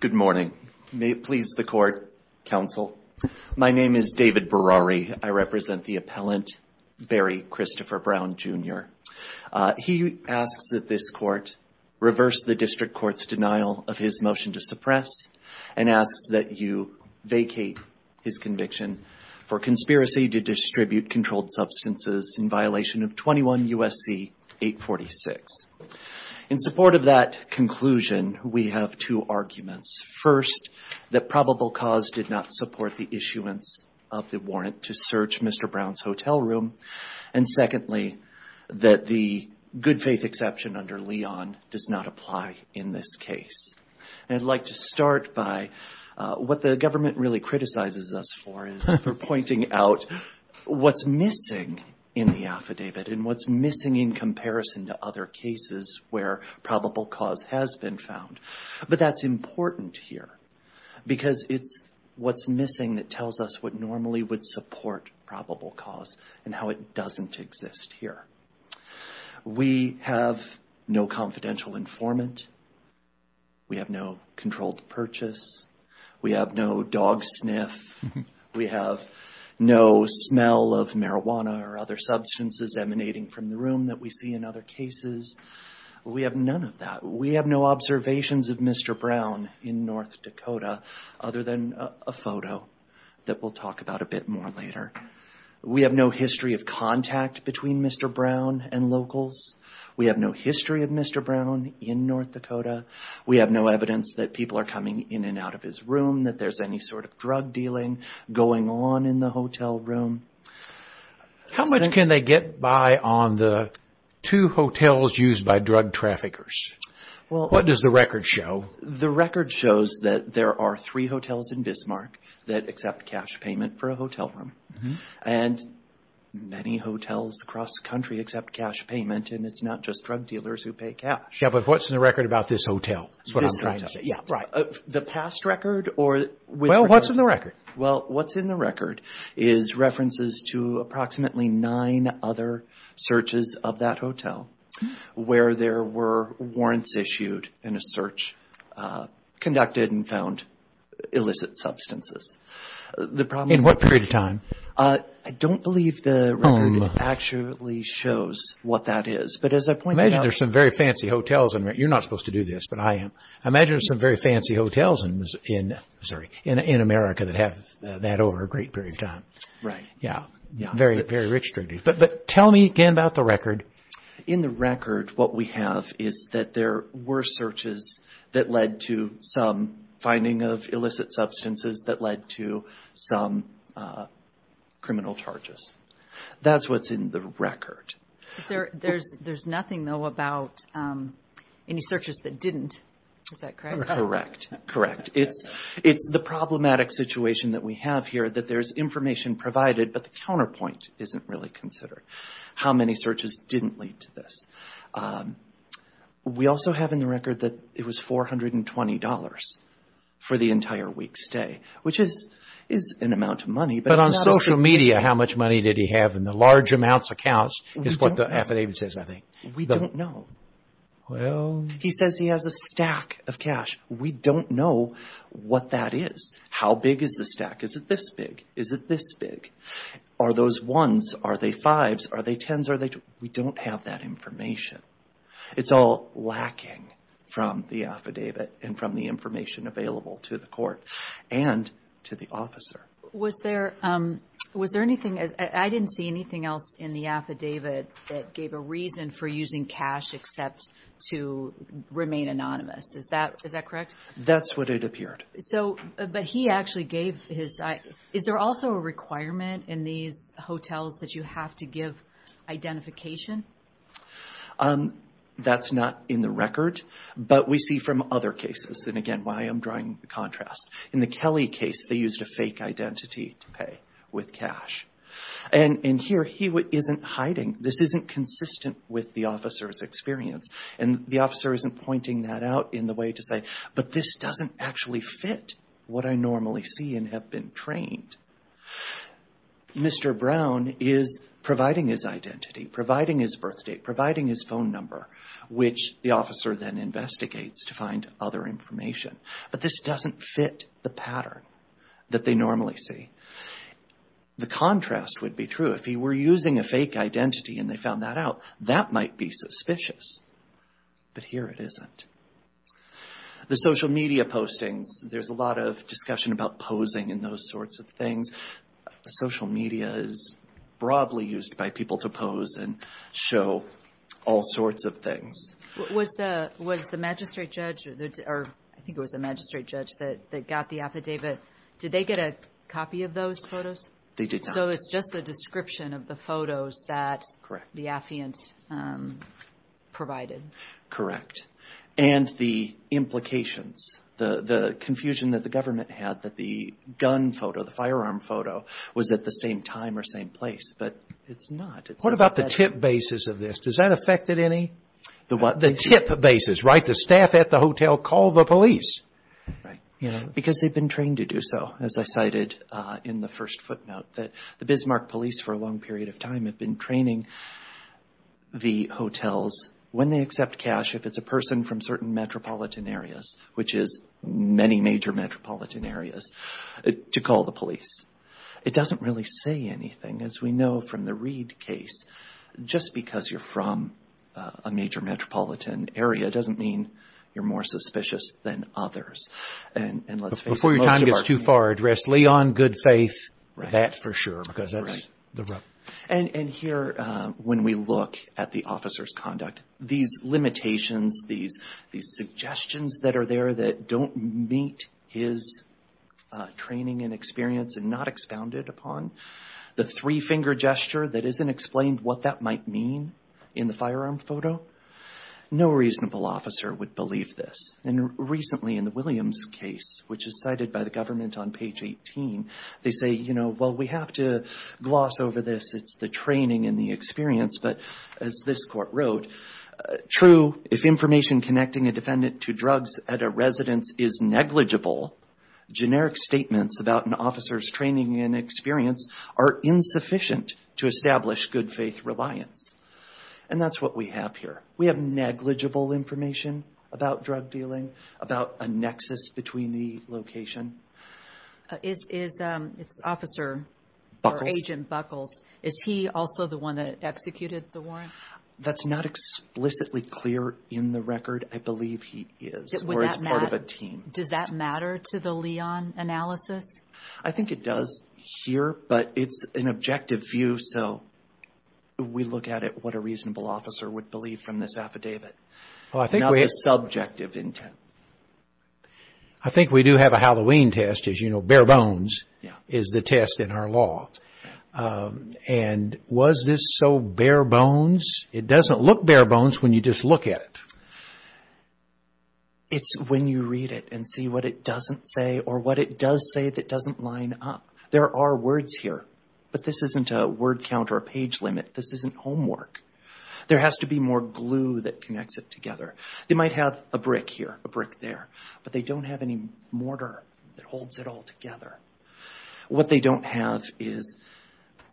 Good morning. May it please the court, counsel. My name is David Berari. I represent the appellant Barry Christopher Brown, Jr. He asks that this court reverse the district court's denial of his motion to suppress and asks that you vacate his conviction for conspiracy to distribute controlled substances in violation of 21 U.S.C. 846. In support of that conclusion, we have two arguments. First, that probable cause did not support the issuance of the warrant to search Mr. Brown's hotel room. And secondly, that the good faith exception under Leon does not apply in this case. And I'd like to start by what the government really is missing in the affidavit and what's missing in comparison to other cases where probable cause has been found. But that's important here because it's what's missing that tells us what normally would support probable cause and how it doesn't exist here. We have no confidential informant. We have no controlled purchase. We have no dog sniff. We have no smell of marijuana or other substances emanating from the room that we see in other cases. We have none of that. We have no observations of Mr. Brown in North Dakota other than a photo that we'll talk about a bit more later. We have no history of contact between Mr. Brown and locals. We have no history of Mr. Brown in North Dakota. We have no evidence that people are coming in and out of his room, that there's any sort of drug dealing going on in the hotel room. How much can they get by on the two hotels used by drug traffickers? What does the record show? The record shows that there are three hotels in Bismarck that accept cash payment for a hotel room. And many hotels across the country accept cash payment and it's not just drug dealers who pay cash. Yeah, but what's in the record about this hotel? This hotel, yeah. The past record or which record? Well, what's in the record? Well, what's in the record is references to approximately nine other searches of that hotel where there were warrants issued in a search conducted and found illicit substances. In what period of time? I don't believe the record actually shows what that is. Imagine there's some very fancy hotels. You're not supposed to do this, but I am. I imagine there's some very fancy hotels in America that have that over a great period of time. Right. Yeah. Very, very rich. But tell me again about the record. In the record, what we have is that there were searches that led to some finding of illicit substances that led to some criminal charges. That's what's in the record. There's nothing, though, about any searches that didn't. Is that correct? Correct. Correct. It's the problematic situation that we have here that there's information provided, but the counterpoint isn't really considered. How many searches didn't lead to this? We also have in the record that it was $420 for the entire week's stay, which is an amount of money. But on social media, how much money did he have in the large amounts of accounts? Is what the affidavit says, I think. We don't know. Well... He says he has a stack of cash. We don't know what that is. How big is the stack? Is it this big? Is it this big? Are those ones? Are they fives? Are they tens? Are they... We don't have that information. It's all lacking from the affidavit and from the information available to the court and to the officer. Was there anything... I didn't see anything else in the affidavit that gave a reason for using cash except to remain anonymous. Is that correct? That's what it appeared. But he actually gave his... Is there also a requirement in these hotels that you have to give identification? That's not in the record, but we see from other cases. And again, why I'm drawing the contrast. In the Kelly case, they used a fake identity to pay with cash. And here, he isn't hiding. This isn't consistent with the officer's experience. And the officer isn't pointing that out in the way to say, but this doesn't actually fit what I normally see and have been trained. Mr. Brown is providing his identity, providing his birth date, providing his phone number, which the officer then investigates to find other information. But this doesn't fit the pattern that they normally see. The contrast would be true. If he were using a fake identity and they found that out, that might be suspicious. But here it isn't. The social media postings, there's a lot of discussion about posing and those sorts of things. Social media is broadly used by people to pose and show all sorts of things. Was the magistrate judge or I think it was the magistrate judge that got the affidavit, did they get a copy of those photos? They did not. So it's just the description of the photos that the affiant provided? Correct. And the implications, the confusion that the government had that the gun photo, the firearm photo was at the same time or same place. But it's not. What about the tip basis of this? Does that affect it any? The what? The tip basis, right? The staff at the hotel call the police. Right. Because they've been trained to do so, as I cited in the first footnote, that the Bismarck police for a long period of time have been training the hotels when they accept cash, if it's a person from certain metropolitan areas, which is many major metropolitan areas, to call the police. It doesn't really say anything, as we know from the Reed case. Just because you're from a major metropolitan area doesn't mean you're more suspicious than others. And let's face it. Before your time gets too far, address Leon, good faith, that for sure, because that's the rub. And here, when we look at the officer's conduct, these limitations, these suggestions that are finger gesture that isn't explained what that might mean in the firearm photo, no reasonable officer would believe this. And recently, in the Williams case, which is cited by the government on page 18, they say, well, we have to gloss over this. It's the training and the experience. But as this court wrote, true, if information connecting a defendant to drugs at a residence is negligible, generic statements about an officer's training and experience are insufficient to establish good faith reliance. And that's what we have here. We have negligible information about drug dealing, about a nexus between the location. Is Officer, or Agent Buckles, is he also the one that executed the warrant? That's not explicitly clear in the record. I believe he is, or is part of a team. Does that matter to the Leon analysis? I think it does here, but it's an objective view, so we look at it, what a reasonable officer would believe from this affidavit. Not a subjective intent. I think we do have a Halloween test, as you know, bare bones is the test in our law. And was this so bare bones? It doesn't look bare bones when you just look at it. It's when you read it and see what it doesn't say or what it does say that doesn't line up. There are words here, but this isn't a word count or a page limit. This isn't homework. There has to be more glue that connects it together. They might have a brick here, a brick there, but they don't have any mortar that holds it all together. What they don't have is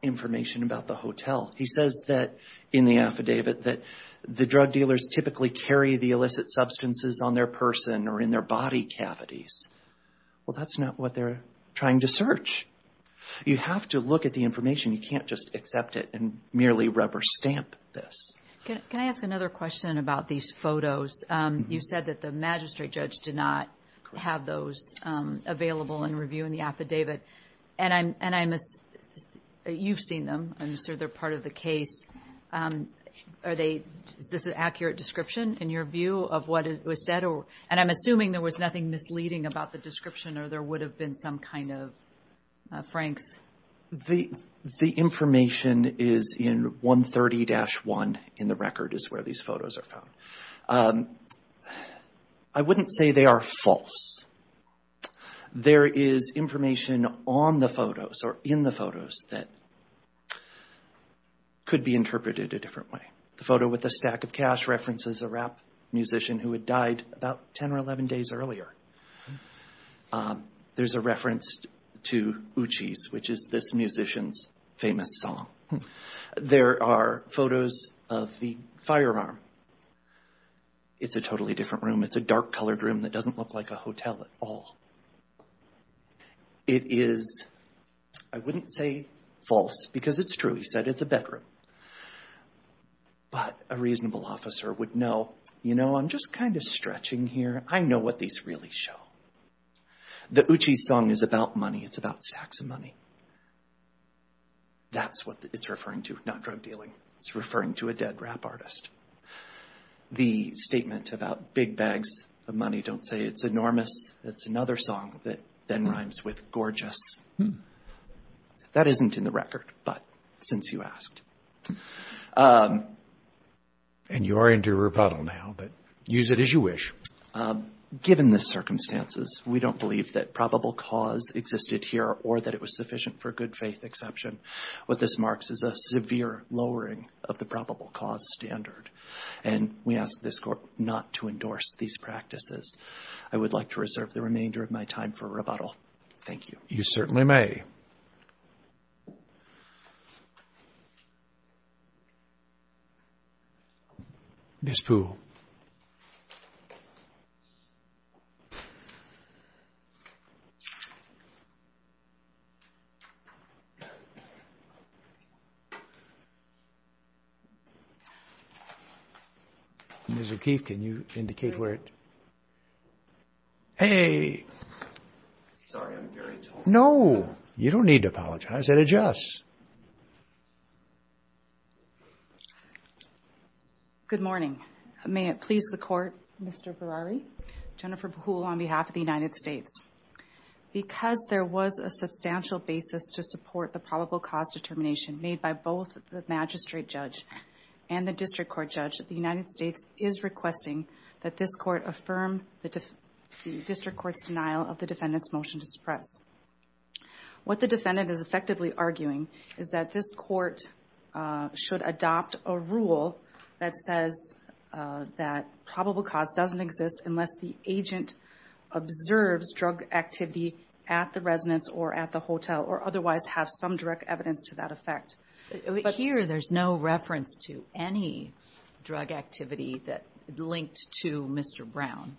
information about the hotel. He says that in the affidavit that the drug dealers typically carry the illicit substances on their person or in their body cavities. Well, that's not what they're trying to search. You have to look at the information. You can't just accept it and merely rubber stamp this. Can I ask another question about these photos? You said that the magistrate judge did not have those available in review in the affidavit. And you've seen them. I'm sure they're part of the case. Is this an accurate description in your view of what was said? And I'm assuming there was nothing misleading about the description or there would have been some kind of franks. The information is in 130-1 in the record is where these photos are found. I wouldn't say they are false. There is information on the photos or in the photos that could be interpreted a different way. The photo with the stack of cash references a rap musician who had died about 10 or 11 days earlier. There's a reference to Uchi's, which is this musician's famous song. There are photos of the firearm. It's a totally different room. It's a dark colored room that doesn't look like a hotel at all. It is, I wouldn't say false because it's true. He said it's a bedroom. But a reasonable officer would know, you know, I'm just kind of stretching here. I know what these really show. The Uchi's song is about money. It's about stacks of money. That's what it's referring to, not drug dealing. It's referring to a dead rap artist. The statement about big bags of money don't say it's enormous. It's another song that then rhymes with gorgeous. That isn't in the record, but since you asked. And you are into rebuttal now, but use it as you wish. Given the circumstances, we don't believe that probable cause existed here or that it was sufficient for good faith exception. What this marks is a severe lowering of the probable cause standard. And we ask this court not to endorse these practices. I would like to reserve the remainder of my time for rebuttal. Thank you. You certainly may. Ms. Poole. Ms. O'Keefe, can you indicate where it? Hey. Sorry, I'm very tall. No, you don't need to apologize. That adjusts. Good morning. May it please the court, Mr. Berari, Jennifer Poole on behalf of the United States. Because there was a substantial basis to support the probable cause determination made by both the magistrate judge and the district court judge, the United States is requesting that this court affirm the district court's denial of the defendant's motion to suppress. What the defendant is effectively arguing is that this court should adopt a rule that says that probable cause doesn't exist unless the agent observes drug activity at the residence or at the hotel or otherwise have some direct evidence to that effect. But here there's no reference to any drug activity that linked to Mr. Brown.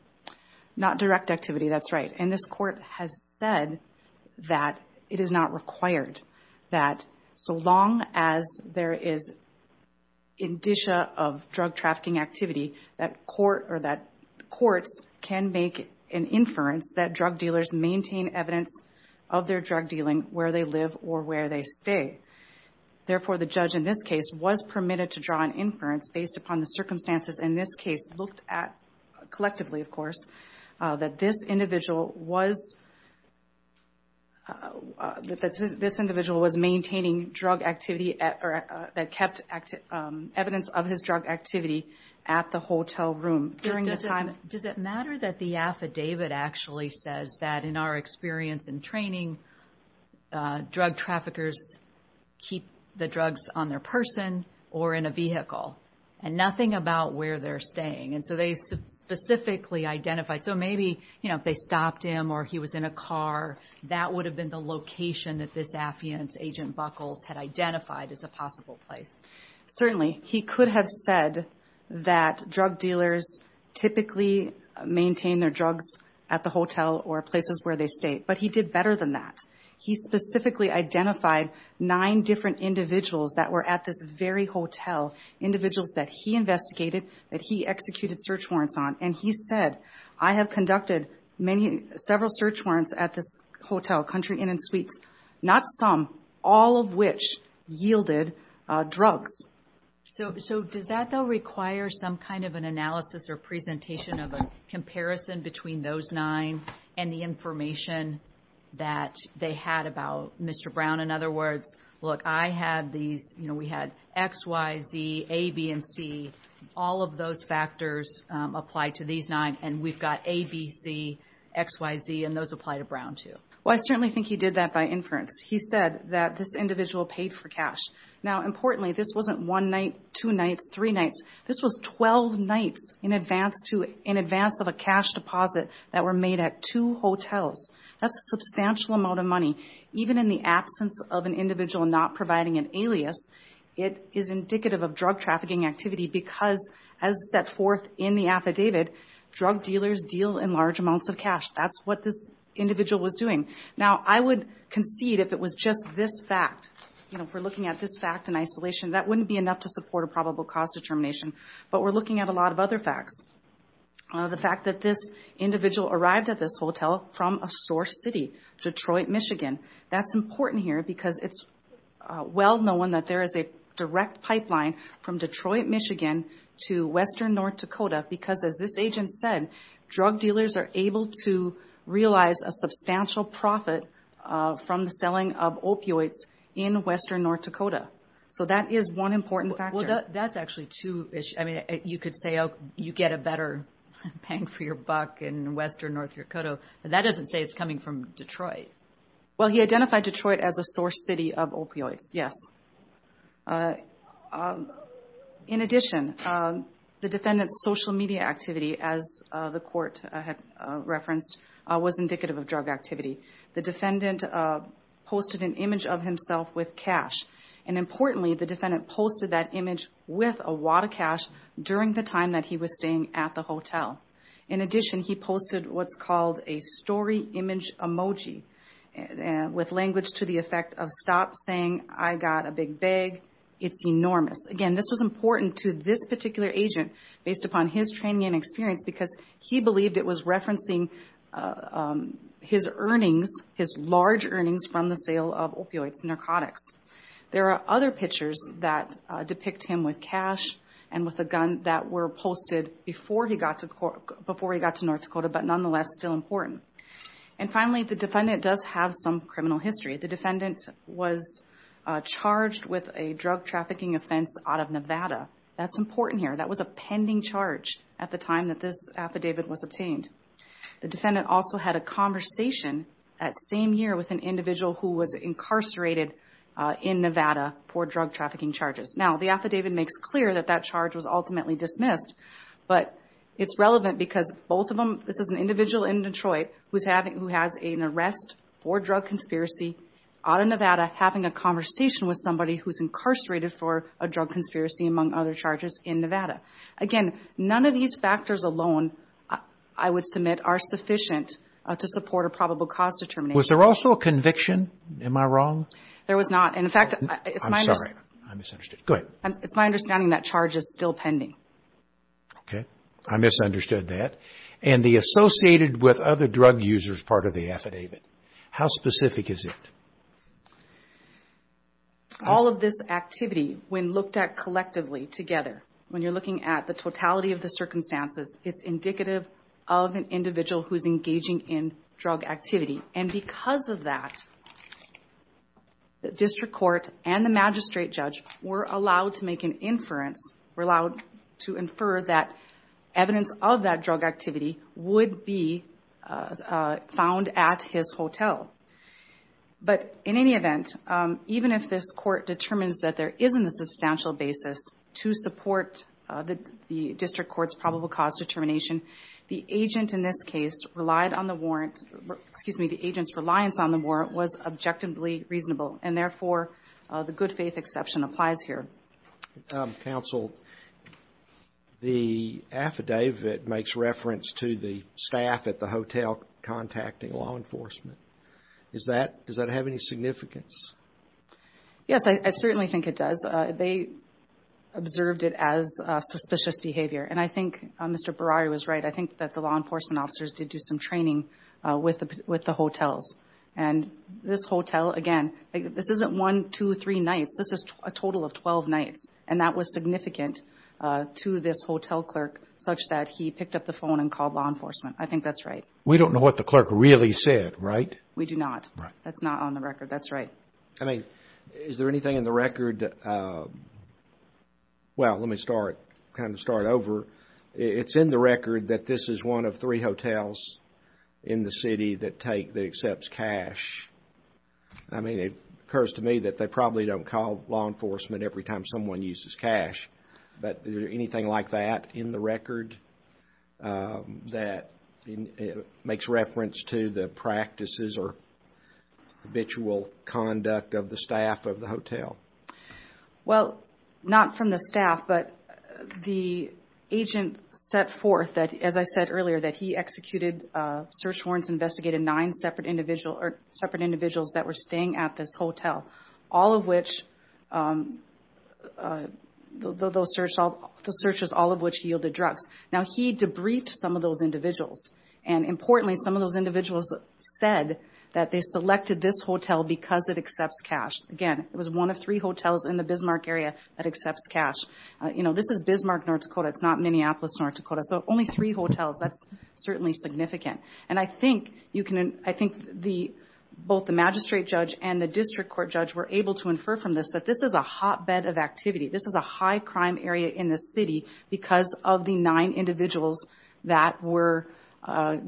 Not direct activity. That's right. And this court has said that it is not required that so long as there is indicia of drug trafficking activity that court or that courts can make an inference that drug dealers maintain evidence of their drug dealing where they live or where they stay. Therefore, the judge in this case was permitted to draw an inference based upon the circumstances in this case looked at collectively, of course, that this individual was maintaining drug activity or that kept evidence of his drug activity at the hotel room during the time. Does it matter that the affidavit actually says that in our experience and training drug traffickers keep the drugs on their person or in a vehicle and nothing about where they're staying? And so they specifically identified. So maybe, you know, if they stopped him or he was in a car, that would have been the location that this affidavit agent Buckles had identified as a maintained their drugs at the hotel or places where they stayed. But he did better than that. He specifically identified nine different individuals that were at this very hotel, individuals that he investigated, that he executed search warrants on. And he said, I have conducted several search warrants at this hotel, country in and suites, not some, all of yielded drugs. So, so does that though, require some kind of an analysis or presentation of a comparison between those nine and the information that they had about Mr. Brown? In other words, look, I had these, you know, we had X, Y, Z, A, B, and C, all of those factors apply to these nine. And we've got ABC X, Y, Z, and those apply to Brown too. Well, I certainly think he did that by inference. He said that this individual paid for cash. Now, importantly, this wasn't one night, two nights, three nights. This was 12 nights in advance of a cash deposit that were made at two hotels. That's a substantial amount of money. Even in the absence of an individual not providing an alias, it is indicative of drug trafficking activity because as set forth in the affidavit, drug dealers deal in large amounts of cash. That's what this individual was doing. Now, I would concede if it was just this fact, you know, if we're looking at this fact in isolation, that wouldn't be enough to support a probable cause determination. But we're looking at a lot of other facts. The fact that this individual arrived at this hotel from a source city, Detroit, Michigan. That's important here because it's well known that there is a direct pipeline from Detroit, Michigan to Western North Dakota because as this agent said, drug dealers are able to realize a substantial profit from the selling of opioids in Western North Dakota. So, that is one important factor. Well, that's actually two issues. I mean, you could say, oh, you get a better bang for your buck in Western North Dakota, but that doesn't say it's coming from Detroit. Well, he identified Detroit as a source city of opioids, yes. In addition, the defendant's social media activity, as the court had referenced, was indicative of drug activity. The defendant posted an image of himself with cash. And importantly, the defendant posted that image with a wad of cash during the time that he was staying at the hotel. In addition, he posted what's called a story image emoji with language to the effect of stop saying, I got a big bag. It's enormous. Again, this was important to this particular agent based upon his training and experience because he believed it was referencing his earnings, his large earnings from the sale of opioids, narcotics. There are other pictures that depict him with cash and with a gun that were posted before he got to North Dakota, but nonetheless still important. And finally, the defendant does have some criminal history. The defendant was charged with a drug trafficking offense out of Nevada. That's important here. That was a pending charge at the time that this affidavit was obtained. The defendant also had a conversation that same year with an individual who was incarcerated in Nevada for drug trafficking charges. Now, the affidavit makes clear that that charge was ultimately dismissed, but it's relevant because both of them, this is an individual in Detroit who has an arrest for drug conspiracy out of Nevada having a conversation with somebody who's incarcerated for a drug conspiracy among other charges in Nevada. Again, none of these factors alone, I would submit, are sufficient to support a probable cause determination. Was there also a conviction? Am I wrong? There was not. In fact, it's my understanding that charge is still pending. Okay. I misunderstood that. And the associated with other drug users part of the affidavit? How specific is it? All of this activity, when looked at collectively together, when you're looking at the totality of the circumstances, it's indicative of an individual who's engaging in drug activity. And because of that, the district court and the magistrate judge were allowed to make an inference, were allowed to infer that evidence of that drug activity would be found at his hotel. But in any event, even if this court determines that there isn't a substantial basis to support the district court's probable cause determination, the agent in this case relied on the warrant, excuse me, the agent's reliance on the warrant was objectively reasonable. And so, the affidavit makes reference to the staff at the hotel contacting law enforcement. Does that have any significance? Yes, I certainly think it does. They observed it as suspicious behavior. And I think Mr. Barari was right. I think that the law enforcement officers did do some training with the hotels. And this hotel, again, this isn't one, two, three nights. This is a total of 12 nights. And that was significant to this hotel clerk such that he picked up the phone and called law enforcement. I think that's right. We don't know what the clerk really said, right? We do not. That's not on the record. That's right. I mean, is there anything in the record? Well, let me start, kind of start over. It's in the record that this is one of three hotels in the city that take, that accepts cash. I mean, it occurs to me that they probably don't call law enforcement every time someone uses cash. But is there anything like that in the record that makes reference to the practices or habitual conduct of the staff of the hotel? Well, not from the staff, but the agent set forth that, as I said earlier, that he executed search warrants, investigated nine separate individuals that were staying at this hotel, all of which, those searches, all of which yielded drugs. Now, he debriefed some of those individuals. And importantly, some of those individuals said that they selected this hotel because it accepts cash. Again, it was one of three hotels in the Bismarck area that accepts cash. You know, this is Bismarck, North Dakota. It's not Minneapolis, North Dakota. So only three hotels. That's certainly significant. And I think you can, I think the, both the magistrate judge and the district court judge were able to infer from this that this is a hotbed of activity. This is a high crime area in the city because of the nine individuals that were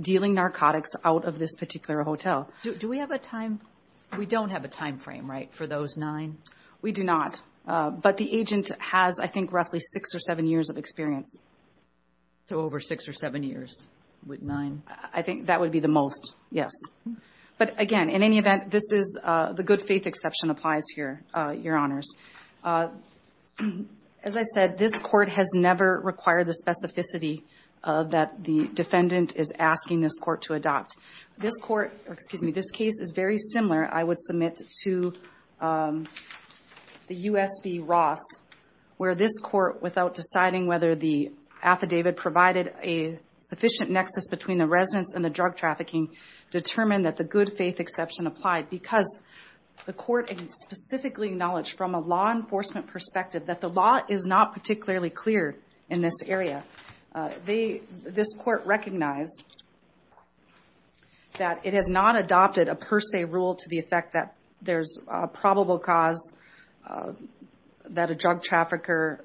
dealing narcotics out of this particular hotel. Do we have a time, we don't have a time frame, right, for those nine? We do not. But the agent has, I think, roughly six or seven years of experience. So over six or seven years with nine? I think that would be the most, yes. But again, in any event, this is, the good faith exception applies here, your honors. As I said, this court has never required the specificity that the defendant is asking this court to adopt. This court, excuse me, this case is very similar, I would submit, to the U.S. v. Ross, where this court, without deciding whether the affidavit provided a sufficient nexus between the residents and the drug trafficking, determined that the good faith exception applied. Because the court specifically acknowledged from a law enforcement perspective that the law is not particularly clear in this area. This court recognized that it has not adopted a per se rule to the effect that there's a probable cause that a drug trafficker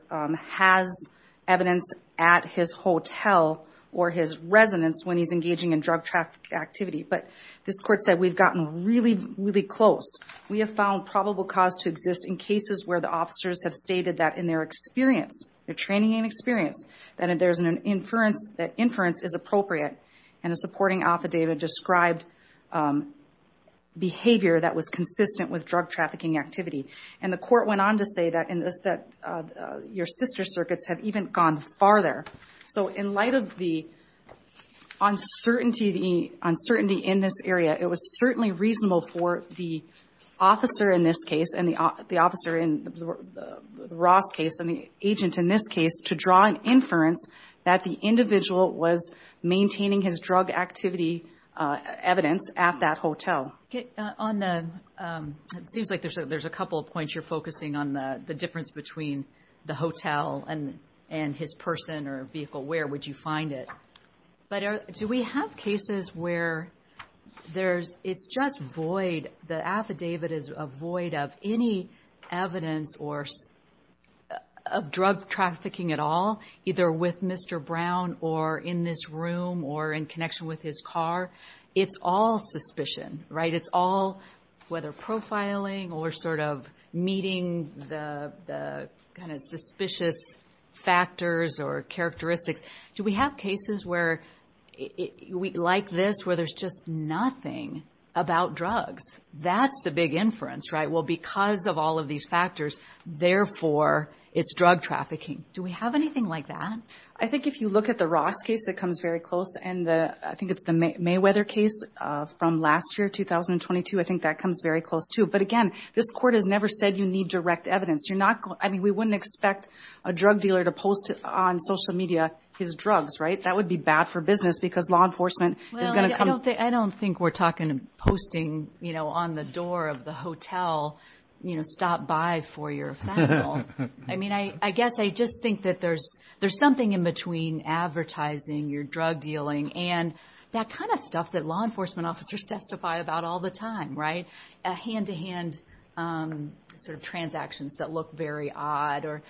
has evidence at his hotel or his residence when he's engaging in drug traffic activity. But this court said we've gotten really, really close. We have found probable cause to exist in cases where the officers have stated that in their experience, their training and experience, that there's an inference, that inference is appropriate, and a supporting affidavit described behavior that was consistent with drug trafficking activity. The court went on to say that your sister circuits have even gone farther. So in light of the uncertainty in this area, it was certainly reasonable for the officer in this case, and the officer in the Ross case, and the agent in this case, to draw an inference that the individual was maintaining his drug activity evidence at that hotel. On the, it seems like there's a couple of points you're focusing on the difference between the hotel and his person or vehicle. Where would you find it? But do we have cases where there's, it's just void, the affidavit is a void of any evidence or of drug trafficking at all, either with Mr. Brown or in this room or in connection with his car. It's all suspicion, right? It's all whether profiling or sort of meeting the kind of suspicious factors or characteristics. Do we have cases where, like this, where there's just nothing about drugs? That's the big inference, right? Well, because of all of these factors, therefore, it's drug trafficking. Do we have anything like that? I think if you look at the Ross case, it comes very close. And I think it's the Mayweather case from last year, 2022. I think that comes very close too. But again, this court has never said you need direct evidence. You're not going, I mean, we wouldn't expect a drug dealer to post on social media his drugs, right? That would be bad for business because law enforcement is going to come. Well, I don't think we're talking, posting, you know, on the door of the hotel, you know, stop by for your phenomenal. I mean, I guess I just think that there's something in between advertising, your drug dealing, and that kind of stuff that law enforcement officers testify about all the time, right? A hand-to-hand sort of transactions that look very odd, or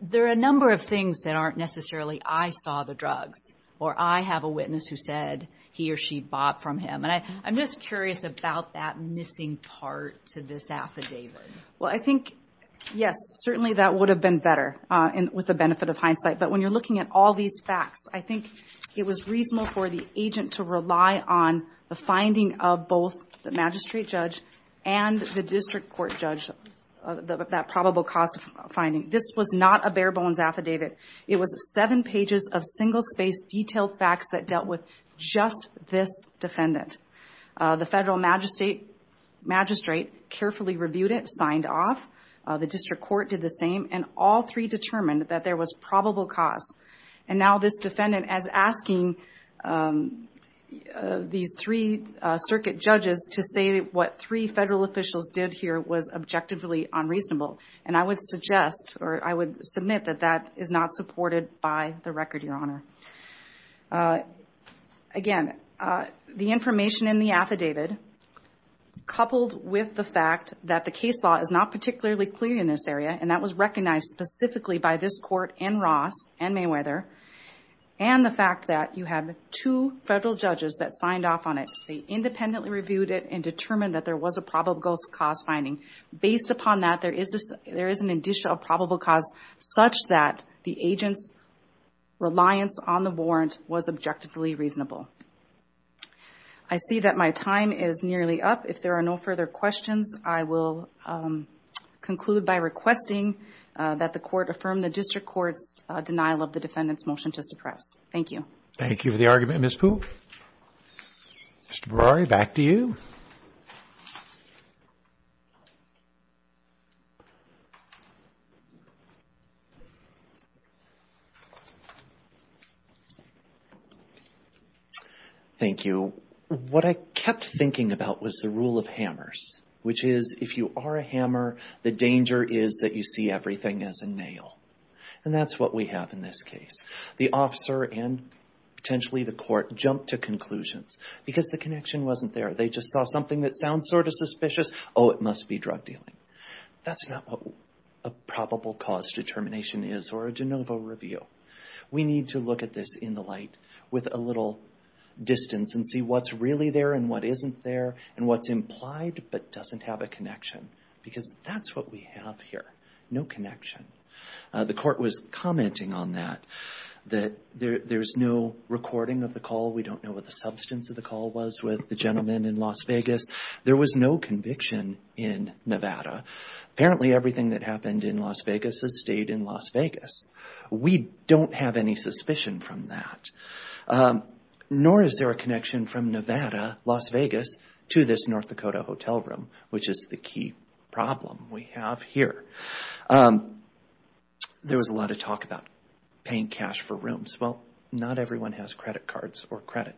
there are a number of things that aren't necessarily, I saw the drugs, or I have a witness who said he or she bought from him. And I'm just curious about that missing part to this affidavit. Well, I think, yes, certainly that would have been better with the benefit of all these facts. I think it was reasonable for the agent to rely on the finding of both the magistrate judge and the district court judge, that probable cause of finding. This was not a bare-bones affidavit. It was seven pages of single-space detailed facts that dealt with just this defendant. The federal magistrate carefully reviewed it, signed off. The district court did the same, and all three determined that there was probable cause. And now this defendant is asking these three circuit judges to say what three federal officials did here was objectively unreasonable. And I would suggest, or I would submit that that is not supported by the record, Your Honor. Again, the information in the affidavit, coupled with the fact that the was recognized specifically by this court and Ross and Mayweather, and the fact that you have two federal judges that signed off on it, they independently reviewed it and determined that there was a probable cause finding. Based upon that, there is an additional probable cause such that the agent's reliance on the warrant was objectively reasonable. I see that my time is nearly up. If there are no further questions, I will conclude by requesting that the Court affirm the district court's denial of the defendant's motion to suppress. Thank you. Thank you for the argument, Ms. Poole. Mr. Berari, back to you. Thank you. What I kept thinking about was the rule of hammers, which is if you are a hammer, the danger is that you see everything as a nail. And that's what we have in this case. The officer and potentially the court jumped to conclusions because the connection wasn't there. They just saw something that sounds sort of suspicious. Oh, it must be drug dealing. That's not what a probable cause determination is or a de novo review. We need to look at this in the light with a little distance and see what's really there and what we have here. No connection. The court was commenting on that, that there's no recording of the call. We don't know what the substance of the call was with the gentleman in Las Vegas. There was no conviction in Nevada. Apparently, everything that happened in Las Vegas has stayed in Las Vegas. We don't have any suspicion from that. Nor is there a connection from Nevada, Las Vegas to this North Dakota hotel room, which is the key problem we have here. There was a lot of talk about paying cash for rooms. Well, not everyone has credit cards or credit.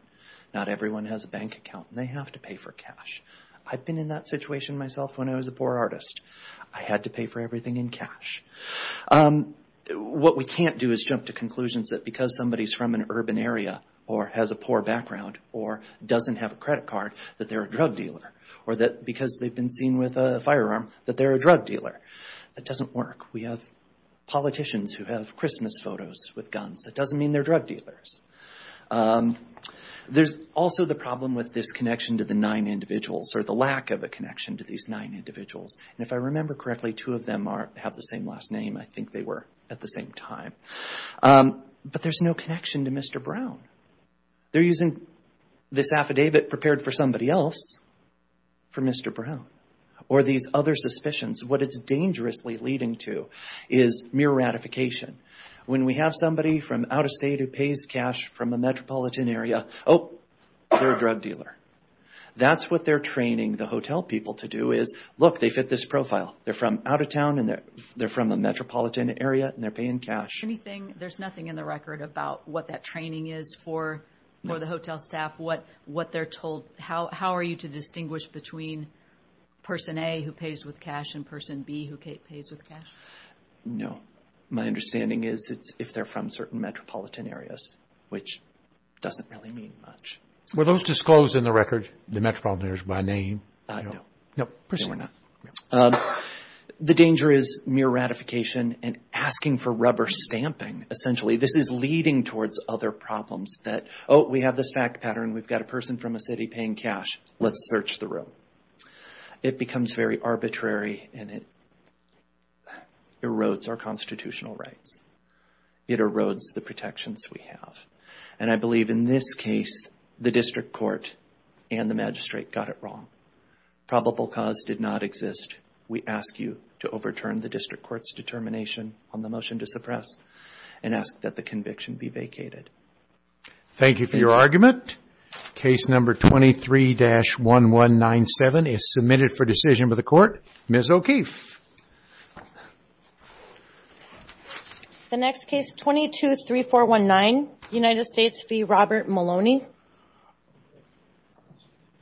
Not everyone has a bank account. They have to pay for cash. I've been in that situation myself when I was a poor artist. I had to pay for everything in cash. What we can't do is jump to conclusions that because somebody's from an urban area or has a poor background or doesn't have a credit card that they're a drug dealer or that because they've been seen with a firearm that they're a drug dealer. That doesn't work. We have politicians who have Christmas photos with guns. That doesn't mean they're drug dealers. There's also the problem with this connection to the nine individuals or the lack of a connection to these nine individuals. If I remember correctly, two of them have the same last name. I think they were at the same time. But there's no connection to Mr. Brown. They're using this affidavit prepared for somebody else for Mr. Brown or these other suspicions. What it's dangerously leading to is mere ratification. When we have somebody from out of state who pays cash from a metropolitan area, oh, they're a drug dealer. That's what they're training the hotel people to do is, look, they fit this profile. They're from out of town and they're from a metropolitan area and they're paying cash. There's nothing in the record about what that training is for the hotel staff, what they're told. How are you to distinguish between person A who pays with cash and person B who pays with cash? No. My understanding is it's if they're from certain metropolitan areas, which doesn't really mean much. Were those disclosed in the record, the metropolitan areas, by name? No. We're not. The danger is mere ratification and asking for rubber stamping. Essentially, this is leading towards other problems that, oh, we have this fact pattern. We've got a person from a city paying cash. Let's search the room. It becomes very arbitrary and it erodes our constitutional rights. It erodes the protections we have. I believe in this case, the district court and the magistrate got it wrong. Probable cause did not exist. We ask you to overturn the district court's determination on the motion to suppress and ask that the conviction be vacated. Thank you for your argument. Case number 23-1197 is submitted for decision by the court. Ms. O'Keefe. The next case, 22-3419, United States v. Robert Maloney. Thank you.